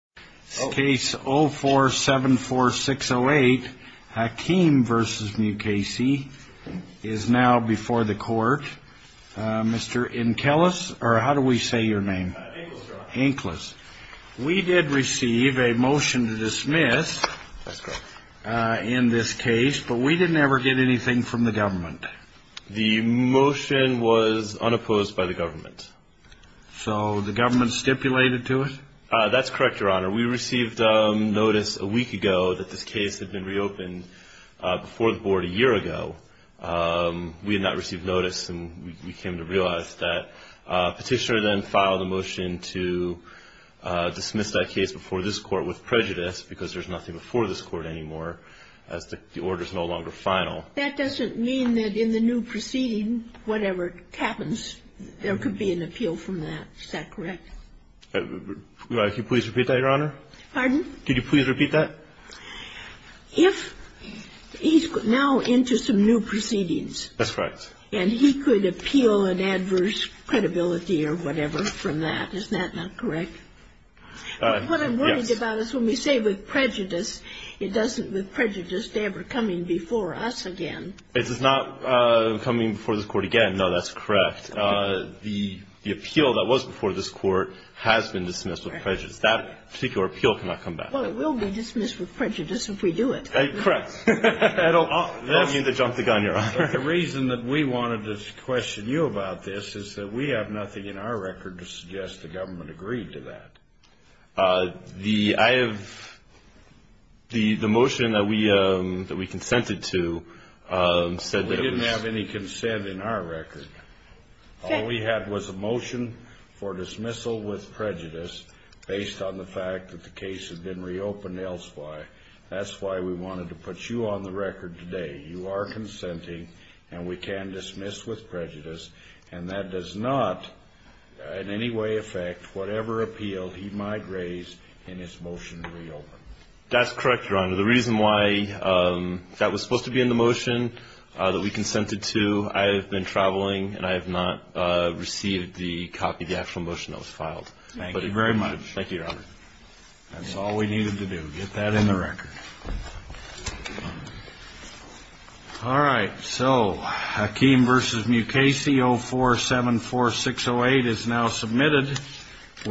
Case 0474608 Hakim v. Mukasey is now before the court. Mr. Inkelis, or how do we say your name? Inkelis. We did receive a motion to dismiss in this case, but we didn't ever get anything from the government. The motion was unopposed by the government. So the government stipulated to it? That's correct, Your Honor. We received notice a week ago that this case had been reopened before the board a year ago. We had not received notice, and we came to realize that. Petitioner then filed a motion to dismiss that case before this court with prejudice, because there's nothing before this court anymore, as the order is no longer final. That doesn't mean that in the new proceeding, whatever happens, there could be an appeal from that. Is that correct? Could you please repeat that, Your Honor? Pardon? Could you please repeat that? If he's now into some new proceedings. That's correct. And he could appeal an adverse credibility or whatever from that. Is that not correct? Yes. What I'm worried about is when we say with prejudice, it doesn't, with prejudice, they're ever coming before us again. It's not coming before this court again. No, that's correct. The appeal that was before this court has been dismissed with prejudice. That particular appeal cannot come back. Well, it will be dismissed with prejudice if we do it. Correct. I don't mean to jump the gun, Your Honor. The reason that we wanted to question you about this is that we have nothing in our record to suggest the government agreed to that. I have the motion that we consented to said that it was We didn't have any consent in our record. All we had was a motion for dismissal with prejudice based on the fact that the case had been reopened elsewhere. That's why we wanted to put you on the record today. You are consenting, and we can dismiss with prejudice. And that does not in any way affect whatever appeal he might raise in his motion to reopen. That's correct, Your Honor. The reason why that was supposed to be in the motion that we consented to, I have been traveling, and I have not received the copy of the actual motion that was filed. Thank you very much. Thank you, Your Honor. That's all we needed to do, get that in the record. All right. So, Hakeem v. Mukasey 0474608 is now submitted.